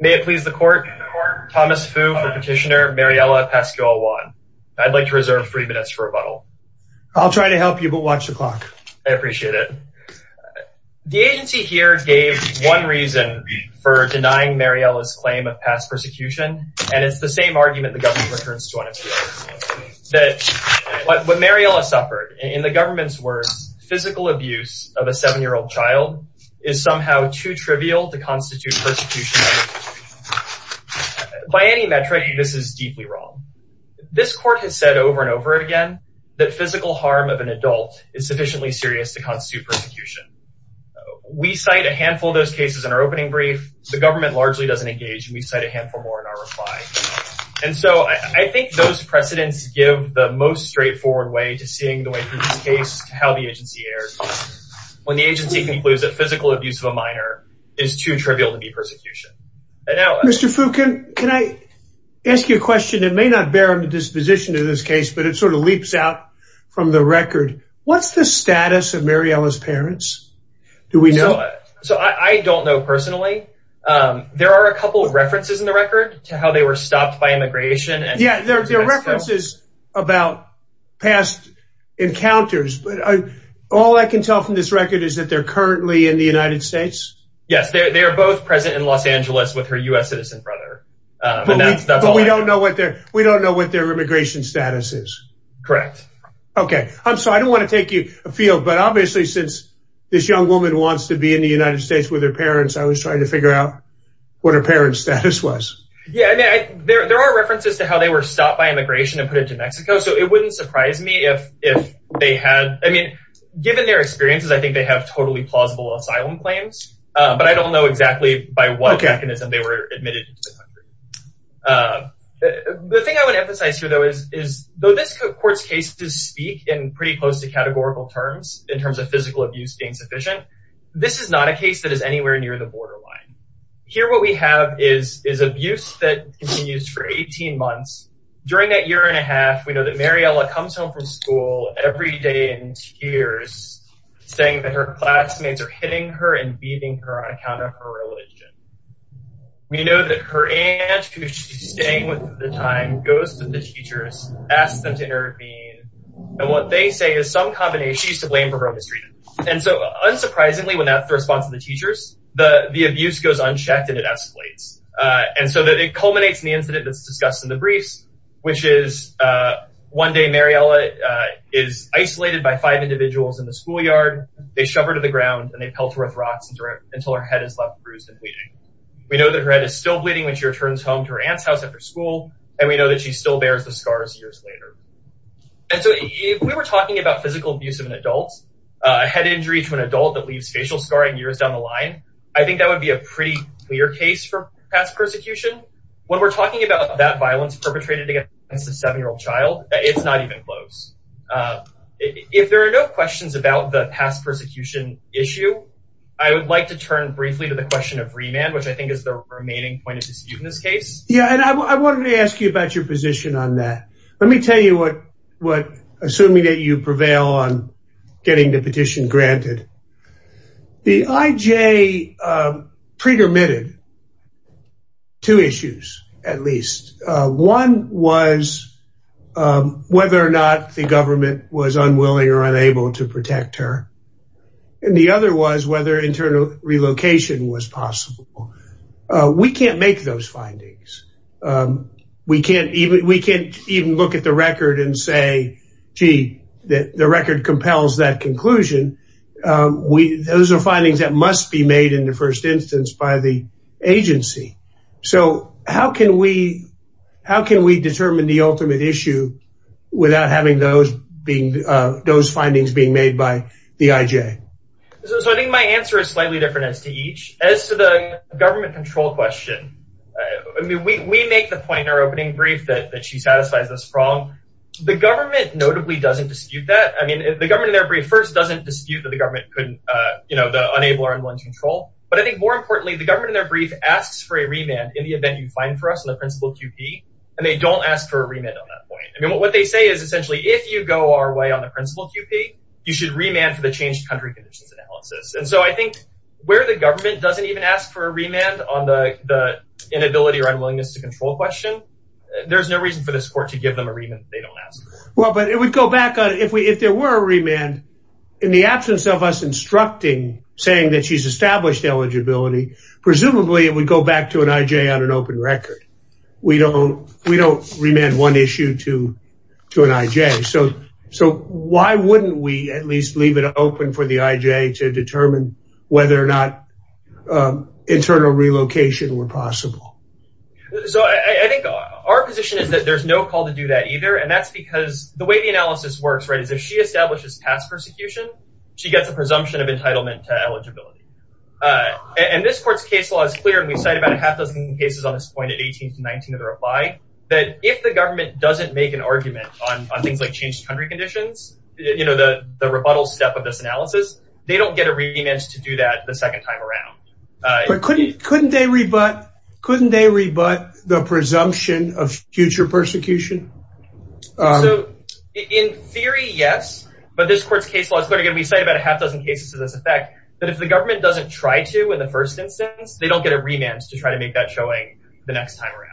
May it please the Court, Thomas Fu for Petitioner, Mariela Pascual-Juan. I'd like to reserve three minutes for rebuttal. I'll try to help you, but watch the clock. I appreciate it. The agency here gave one reason for denying Mariela's claim of past persecution, and it's the same argument the government returns to on its heels. That what Mariela suffered, in the government's words, physical abuse of a seven-year-old child is somehow too trivial to constitute persecution. By any metric, this is deeply wrong. This Court has said over and over again that physical harm of an adult is sufficiently serious to constitute persecution. We cite a handful of those cases in our opening brief. The government largely doesn't engage, and we cite a handful more in our reply. And so I think those precedents give the most straightforward way to seeing the way through this case to how the agency erred when the agency concludes that physical abuse of a minor is too trivial to be persecution. Mr. Fu, can I ask you a question that may not bear on the disposition of this case, but it sort of leaps out from the record. What's the status of Mariela's parents? Do we know it? So I don't know personally. There are a couple of references in the record to how they were stopped by immigration. Yeah, there are references about past encounters, but all I can tell from this record is that they're currently in the United States. Yes, they are both present in Los Angeles with her U.S. citizen brother. But we don't know what their immigration status is. Correct. Okay. I'm sorry, I don't want to take you afield, but obviously since this young woman wants to be in the United States with her parents, I was trying to figure out what her parents' status was. Yeah, there are references to how they were stopped by immigration and put into Mexico, so it wouldn't surprise me if they had – I mean, given their experiences, I think they have totally plausible asylum claims, but I don't know exactly by what mechanism they were admitted into the country. The thing I want to emphasize here, though, is though this court's cases speak in pretty close to categorical terms in terms of physical abuse being sufficient, this is not a case that is anywhere near the borderline. Here what we have is abuse that continues for 18 months. During that year and a half, we know that Mariela comes home from school every day in tears, saying that her classmates are hitting her and beating her on account of her religion. We know that her aunt, who she's staying with at the time, goes to the teachers, asks them to intervene, and what they say is some combination – she's to blame for her mistreatment. And so unsurprisingly, when that's the response of the teachers, the abuse goes unchecked and it escalates. And so it culminates in the incident that's discussed in the briefs, which is one day Mariela is isolated by five individuals in the schoolyard. They shove her to the ground, and they pelt her with rocks until her head is left bruised and bleeding. We know that her head is still bleeding when she returns home to her aunt's house after school, and we know that she still bears the scars years later. And so if we were talking about physical abuse of an adult, a head injury to an adult that leaves facial scarring years down the line, I think that would be a pretty clear case for past persecution. When we're talking about that violence perpetrated against a seven-year-old child, it's not even close. If there are no questions about the past persecution issue, I would like to turn briefly to the question of remand, which I think is the remaining point of dispute in this case. Yeah, and I wanted to ask you about your position on that. Let me tell you what, assuming that you prevail on getting the petition granted. The IJ pre-dermitted two issues, at least. One was whether or not the government was unwilling or unable to protect her. And the other was whether internal relocation was possible. We can't make those findings. We can't even look at the record and say, gee, the record compels that conclusion. Those are findings that must be made in the first instance by the agency. So how can we determine the ultimate issue without having those findings being made by the IJ? So I think my answer is slightly different as to each. As to the government control question, I mean, we make the point in our opening brief that she satisfies this problem. The government notably doesn't dispute that. I mean, the government in their brief first doesn't dispute that the government couldn't, you know, unable or unwilling to control. But I think more importantly, the government in their brief asks for a remand in the event you find for us in the principal QP. And they don't ask for a remand on that point. I mean, what they say is essentially if you go our way on the principal QP, you should remand for the changed country conditions analysis. And so I think where the government doesn't even ask for a remand on the inability or unwillingness to control question, there's no reason for this court to give them a remand if they don't ask. Well, but if we go back on it, if there were a remand in the absence of us instructing, saying that she's established eligibility, presumably it would go back to an IJ on an open record. We don't remand one issue to an IJ. So why wouldn't we at least leave it open for the IJ to determine whether or not internal relocation were possible? So I think our position is that there's no call to do that either. And that's because the way the analysis works, right, is if she establishes past persecution, she gets a presumption of entitlement to eligibility. And this court's case law is clear. And we cite about a half dozen cases on this point at 18 to 19 of the reply that if the government doesn't make an argument on things like changed country conditions, you know, the rebuttal step of this analysis, they don't get a remand to do that the second time around. But couldn't they rebut the presumption of future persecution? So in theory, yes. But this court's case law is clear. Again, we cite about a half dozen cases to this effect that if the government doesn't try to in the first instance, they don't get a remand to try to make that showing the next time around.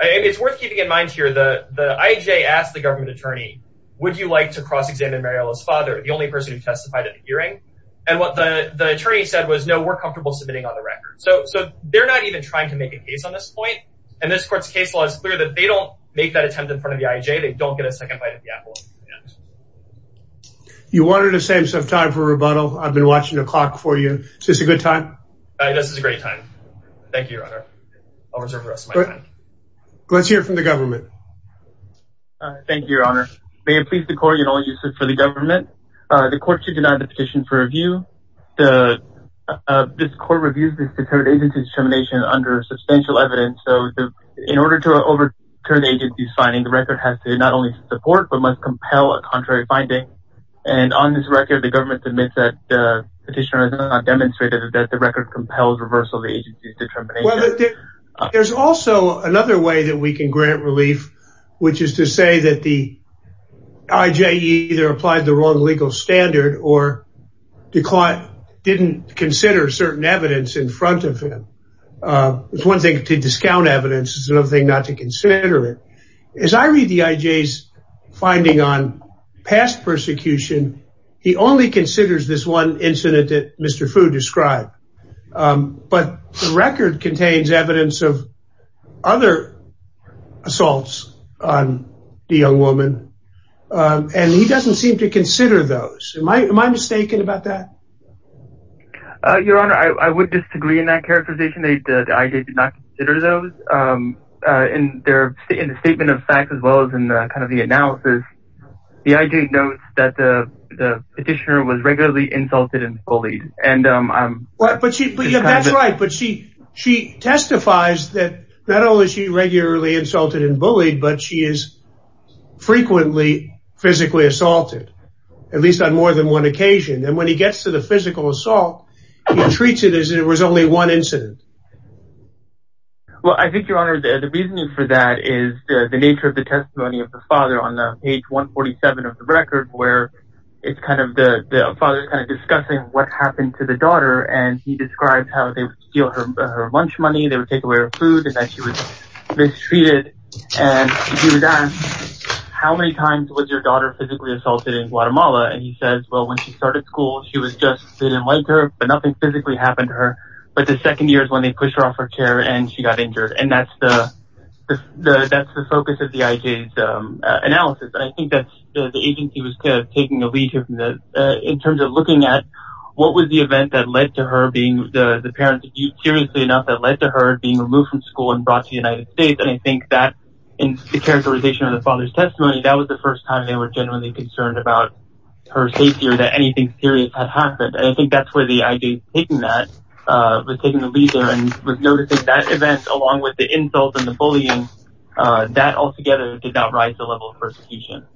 And it's worth keeping in mind here, the IJ asked the government attorney, would you like to cross-examine Mariela's father, the only person who testified at the hearing? And what the attorney said was, no, we're comfortable submitting on the record. So they're not even trying to make a case on this point. And this court's case law is clear that they don't make that attempt in front of the IJ. They don't get a second bite at the apple. You wanted to save some time for rebuttal. I've been watching the clock for you. Is this a good time? This is a great time. Thank you, Your Honor. I'll reserve the rest of my time. Let's hear from the government. Thank you, Your Honor. May it please the court. You know, you said for the government, the court should deny the petition for review. The court reviews this determination under substantial evidence. In order to overturn the agency's finding, the record has to not only support, but must compel a contrary finding. And on this record, the government admits that the petitioner has not demonstrated that the record compels reversal of the agency's determination. There's also another way that we can grant relief, which is to say that the IJ either applied the wrong legal standard or didn't consider certain evidence in front of him. It's one thing to discount evidence. It's another thing not to consider it. As I read the IJ's finding on past persecution, he only considers this one incident that Mr. Fu described. But the record contains evidence of other assaults on the young woman, and he doesn't seem to consider those. Am I mistaken about that? Your Honor, I would disagree in that characterization. The IJ did not consider those. In the statement of facts, as well as in the analysis, the IJ notes that the petitioner was regularly insulted and bullied. That's right, but she testifies that not only is she regularly insulted and bullied, but she is frequently physically assaulted, at least on more than one occasion. When he gets to the physical assault, he treats it as if it was only one incident. Well, I think, Your Honor, the reasoning for that is the nature of the testimony of the father on page 147 of the record, where the father is discussing what happened to the daughter. He describes how they would steal her lunch money, they would take away her food, and that she was mistreated. And he would ask, how many times was your daughter physically assaulted in Guatemala? And he says, well, when she started school, she was just – they didn't like her, but nothing physically happened to her. But the second year is when they pushed her off her chair and she got injured. And that's the focus of the IJ's analysis. I think that the agency was taking a lead here in terms of looking at what was the event that led to her being – the parents, seriously enough, that led to her being removed from school and brought to the United States. And I think that in the characterization of the father's testimony, that was the first time they were genuinely concerned about her safety or that anything serious had happened. And I think that's where the IJ was taking that, was taking the lead there and was noticing that event along with the insult and the bullying, that altogether did not rise the level of persecution.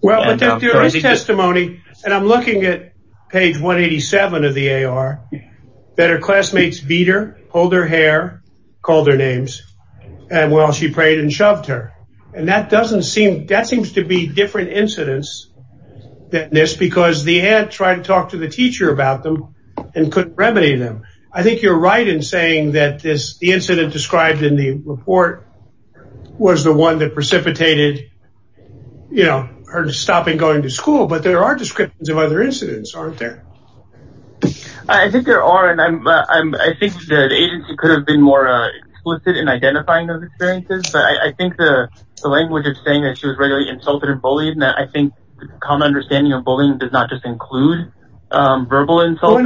Well, in his testimony – and I'm looking at page 187 of the AR – that her classmates beat her, pulled her hair, called her names, and while she prayed and shoved her. And that doesn't seem – that seems to be different incidents than this because the aunt tried to talk to the teacher about them and couldn't remedy them. I think you're right in saying that this – the incident described in the report was the one that precipitated, you know, her stopping going to school. But there are descriptions of other incidents, aren't there? I think there are, and I think the agency could have been more explicit in identifying those experiences. But I think the language of saying that she was regularly insulted and bullied and that I think the common understanding of bullying does not just include verbal insult.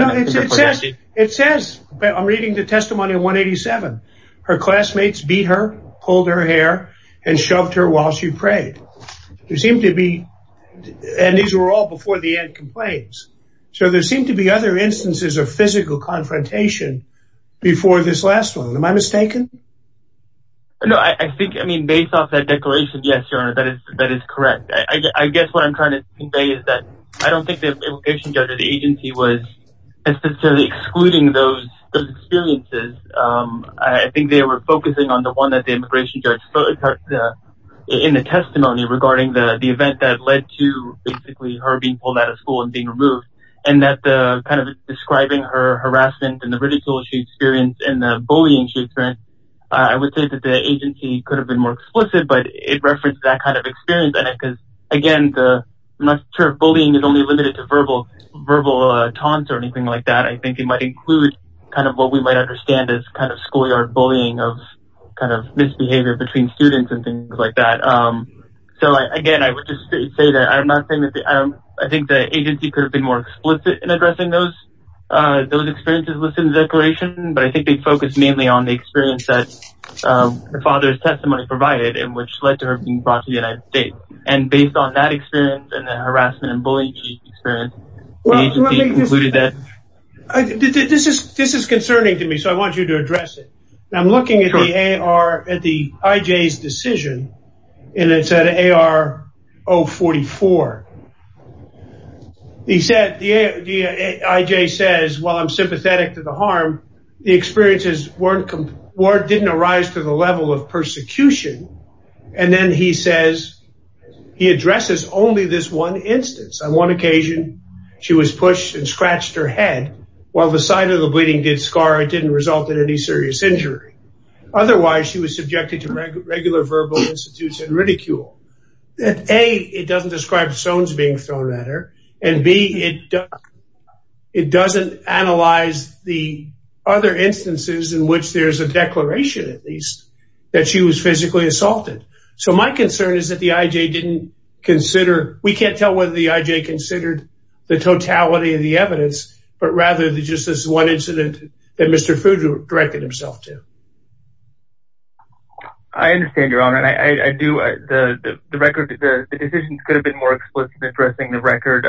It says – I'm reading the testimony in 187 – her classmates beat her, pulled her hair, and shoved her while she prayed. There seemed to be – and these were all before the aunt complains – so there seemed to be other instances of physical confrontation before this last one. Am I mistaken? No, I think – I mean, based off that declaration, yes, Your Honor, that is correct. I guess what I'm trying to convey is that I don't think the immigration judge or the agency was necessarily excluding those experiences. I think they were focusing on the one that the immigration judge put in the testimony regarding the event that led to basically her being pulled out of school and being removed. And that kind of describing her harassment and the ridicule she experienced and the bullying she experienced, I would say that the agency could have been more explicit, but it referenced that kind of experience. Again, I'm not sure if bullying is only limited to verbal taunts or anything like that. I think it might include kind of what we might understand as kind of schoolyard bullying of kind of misbehavior between students and things like that. So, again, I would just say that I'm not saying that – I think the agency could have been more explicit in addressing those experiences listed in the declaration, but I think they focused mainly on the experience that her father's testimony provided and which led to her being brought to the United States. And based on that experience and the harassment and bullying she experienced, the agency concluded that – This is concerning to me, so I want you to address it. I'm looking at the IJ's decision, and it's at AR 044. The IJ says, while I'm sympathetic to the harm, the experiences didn't arise to the level of persecution. And then he says – he addresses only this one instance. On one occasion, she was pushed and scratched her head. While the side of the bleeding did scar, it didn't result in any serious injury. Otherwise, she was subjected to regular verbal institutes and ridicule. A, it doesn't describe stones being thrown at her. And B, it doesn't analyze the other instances in which there's a declaration, at least, that she was physically assaulted. So my concern is that the IJ didn't consider – we can't tell whether the IJ considered the totality of the evidence, but rather just this one incident that Mr. Food directed himself to. I understand, Your Honor. The decisions could have been more explicit in addressing the record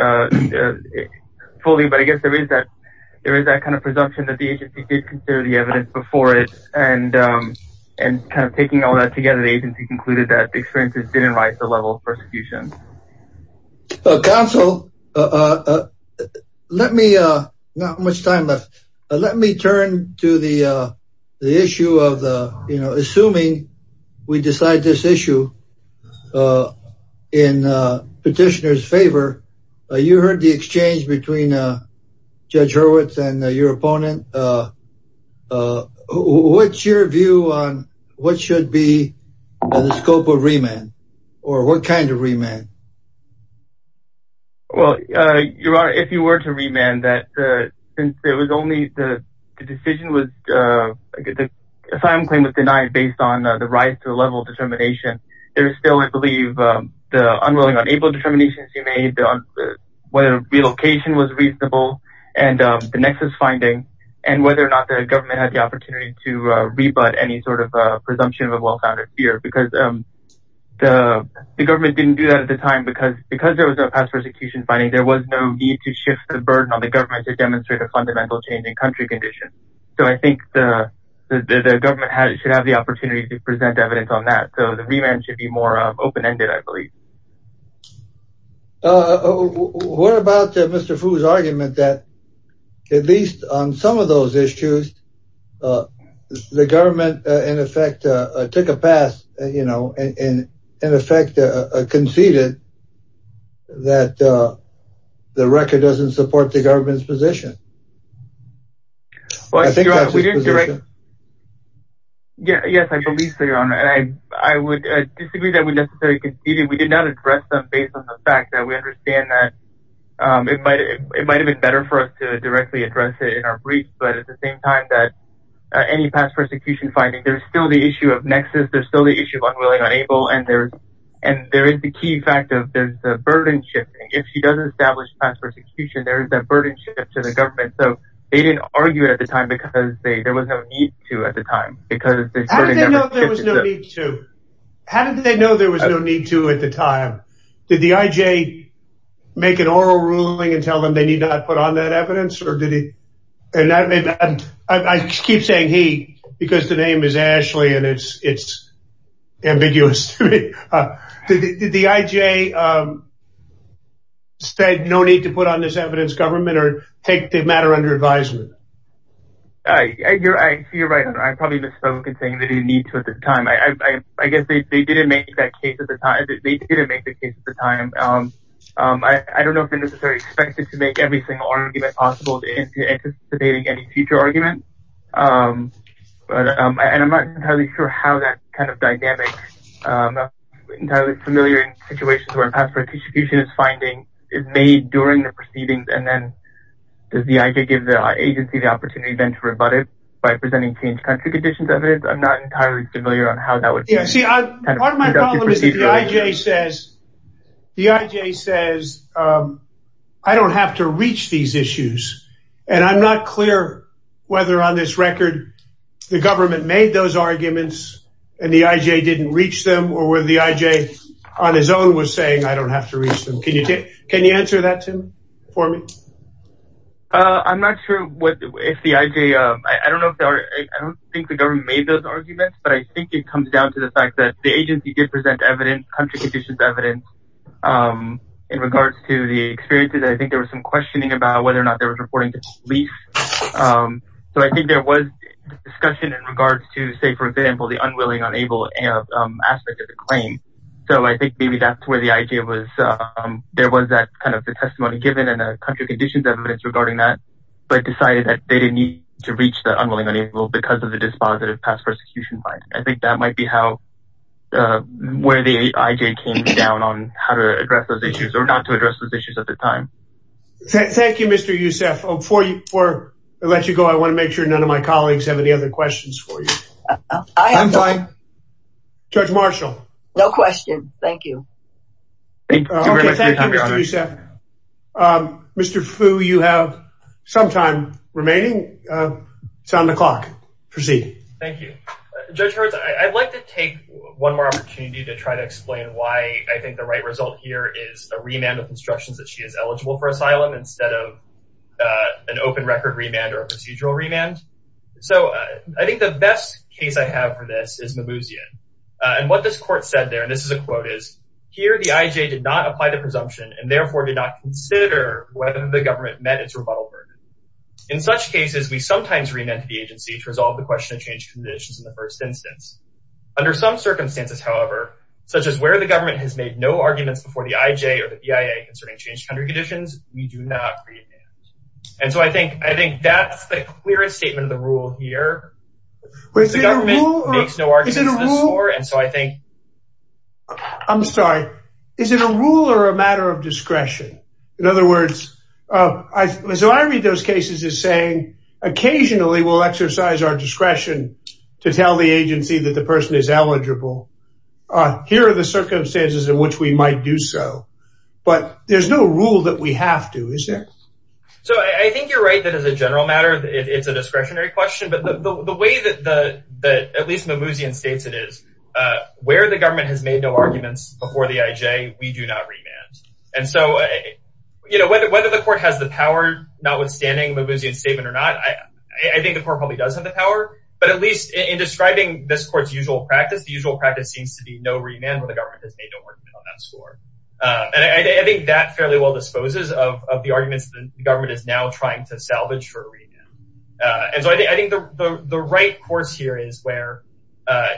fully, but I guess there is that kind of presumption that the agency did consider the evidence before it. And kind of taking all that together, the agency concluded that the experiences didn't arise to the level of persecution. Counsel, let me – not much time left. Let me turn to the issue of assuming we decide this issue in petitioner's favor. You heard the exchange between Judge Hurwitz and your opponent. What's your view on what should be the scope of remand, or what kind of remand? Well, Your Honor, if you were to remand, since it was only – the decision was – the asylum claim was denied based on the rise to the level of determination. There is still, I believe, the unwilling, unable determinations you made, whether relocation was reasonable and the nexus finding, and whether or not the government had the opportunity to rebut any sort of presumption of a well-founded fear. Because the government didn't do that at the time. Because there was no past persecution finding, there was no need to shift the burden on the government to demonstrate a fundamental change in country condition. So I think the government should have the opportunity to present evidence on that. So the remand should be more open-ended, I believe. What about Mr. Fu's argument that, at least on some of those issues, the government, in effect, took a pass, you know, in effect conceded that the record doesn't support the government's position? Yes, I believe so, Your Honor. I would disagree that we necessarily conceded. We did not address them based on the fact that we understand that it might have been better for us to directly address it in our briefs, but at the same time that any past persecution finding, there's still the issue of nexus, there's still the issue of unwilling, unable, and there is the key fact of the burden shifting. If she doesn't establish past persecution, there is that burden shift to the government. So they didn't argue it at the time because there was no need to at the time. How did they know there was no need to? Did the I.J. make an oral ruling and tell them they need not put on that evidence? I keep saying he because the name is Ashley and it's ambiguous to me. Did the I.J. say no need to put on this evidence, government, or take the matter under advisement? You're right, Your Honor. I probably misspoke in saying they didn't need to at the time. I guess they didn't make the case at the time. I don't know if they're necessarily expected to make every single argument possible anticipating any future argument, and I'm not entirely sure how that kind of dynamic, entirely familiar in situations where past persecution is finding, is made during the proceedings and then does the I.J. give the agency the opportunity then to rebut it by presenting changed country conditions evidence? I'm not entirely familiar on how that would be. See, part of my problem is the I.J. says I don't have to reach these issues, and I'm not clear whether on this record the government made those arguments and the I.J. didn't reach them or whether the I.J. on his own was saying I don't have to reach them. Can you answer that, Tim, for me? I'm not sure if the I.J. I don't think the government made those arguments, but I think it comes down to the fact that the agency did present evidence, country conditions evidence, in regards to the experiences. I think there was some questioning about whether or not they were reporting to police. So I think there was discussion in regards to, say, for example, the unwilling, unable aspect of the claim. So I think maybe that's where the I.J. was. There was that testimony given and country conditions evidence regarding that, but decided that they didn't need to reach the unwilling, unable because of the dispositive past persecution plan. I think that might be where the I.J. came down on how to address those issues or not to address those issues at the time. Thank you, Mr. Youssef. Before I let you go, I want to make sure none of my colleagues have any other questions for you. I'm fine. Judge Marshall. No question. Thank you. Thank you, Mr. Youssef. Mr. Fu, you have some time remaining. It's on the clock. Proceed. Thank you. Judge Hertz, I'd like to take one more opportunity to try to explain why I think the right result here is a remand with instructions that she is eligible for asylum instead of an open record remand or a procedural remand. So I think the best case I have for this is Mimouzian. And what this court said there, and this is a quote, is, here the I.J. did not apply the presumption and therefore did not consider whether the government met its rebuttal burden. In such cases, we sometimes remand to the agency to resolve the question of changed conditions in the first instance. Under some circumstances, however, such as where the government has made no arguments before the I.J. or the BIA concerning changed country conditions, we do not remand. And so I think I think that's the clearest statement of the rule here. The government makes no arguments before, and so I think. I'm sorry. Is it a rule or a matter of discretion? In other words, so I read those cases as saying occasionally we'll exercise our discretion to tell the agency that the person is eligible. Here are the circumstances in which we might do so. But there's no rule that we have to, is there? So I think you're right that as a general matter, it's a discretionary question. But the way that at least Mimouzian states it is where the government has made no arguments before the I.J., we do not remand. And so, you know, whether the court has the power, notwithstanding Mimouzian's statement or not, I think the court probably does have the power. But at least in describing this court's usual practice, the usual practice seems to be no remand where the government has made no argument on that score. And I think that fairly well disposes of the arguments the government is now trying to salvage for a remand. And so I think the right course here is where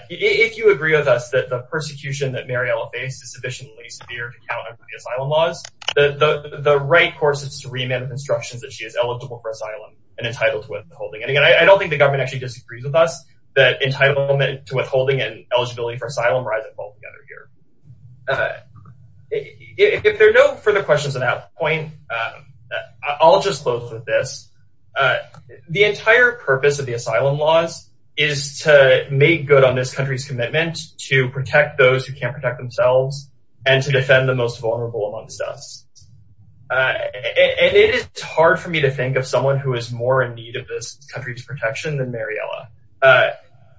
if you agree with us that the persecution that Mariela faced is sufficiently severe to count on the asylum laws, the right course is to remand with instructions that she is eligible for asylum and entitled to withholding. And I don't think the government actually disagrees with us that entitlement to withholding and eligibility for asylum rise and fall together here. If there are no further questions on that point, I'll just close with this. The entire purpose of the asylum laws is to make good on this country's commitment to protect those who can't protect themselves and to defend the most vulnerable amongst us. And it is hard for me to think of someone who is more in need of this country's protection than Mariela.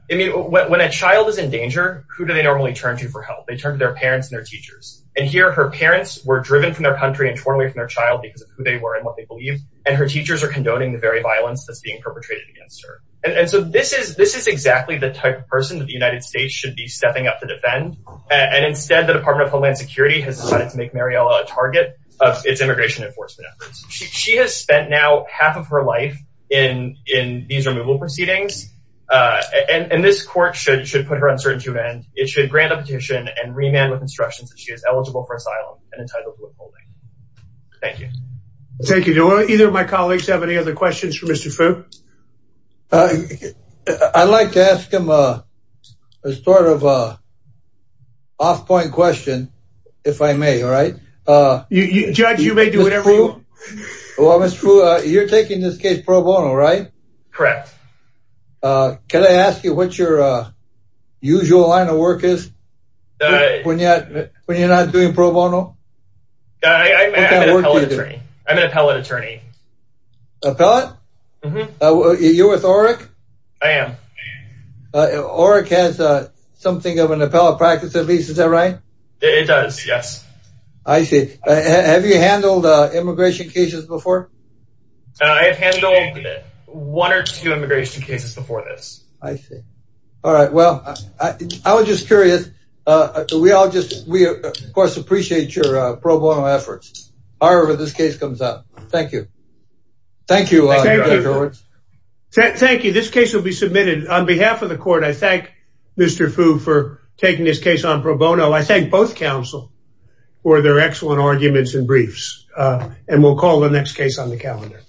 I mean, when a child is in danger, who do they normally turn to for help? They turn to their parents and their teachers. And here her parents were driven from their country and torn away from their child because of who they were and what they believed. And her teachers are condoning the very violence that's being perpetrated against her. And so this is this is exactly the type of person that the United States should be stepping up to defend. And instead, the Department of Homeland Security has decided to make Mariela a target of its immigration enforcement efforts. She has spent now half of her life in in these removal proceedings. And this court should should put her on search and it should grant a petition and remand with instructions that she is eligible for asylum and entitled to withholding. Thank you. Thank you. Do either of my colleagues have any other questions for Mr. Fu? I'd like to ask him a sort of off point question, if I may. All right. Judge, you may do whatever you want. Well, Mr. Fu, you're taking this case pro bono, right? Correct. Can I ask you what your usual line of work is when you're not doing pro bono? I'm an appellate attorney. Appellate? You're with OREC? I am. OREC has something of an appellate practice, at least. Is that right? It does. Yes. I see. Have you handled immigration cases before? I've handled one or two immigration cases before this. I see. All right. Well, I was just curious. We all just we, of course, appreciate your pro bono efforts, however this case comes up. Thank you. Thank you. Thank you. This case will be submitted on behalf of the court. I thank Mr. Fu for taking this case on pro bono. I thank both counsel for their excellent arguments and briefs. And we'll call the next case on the calendar.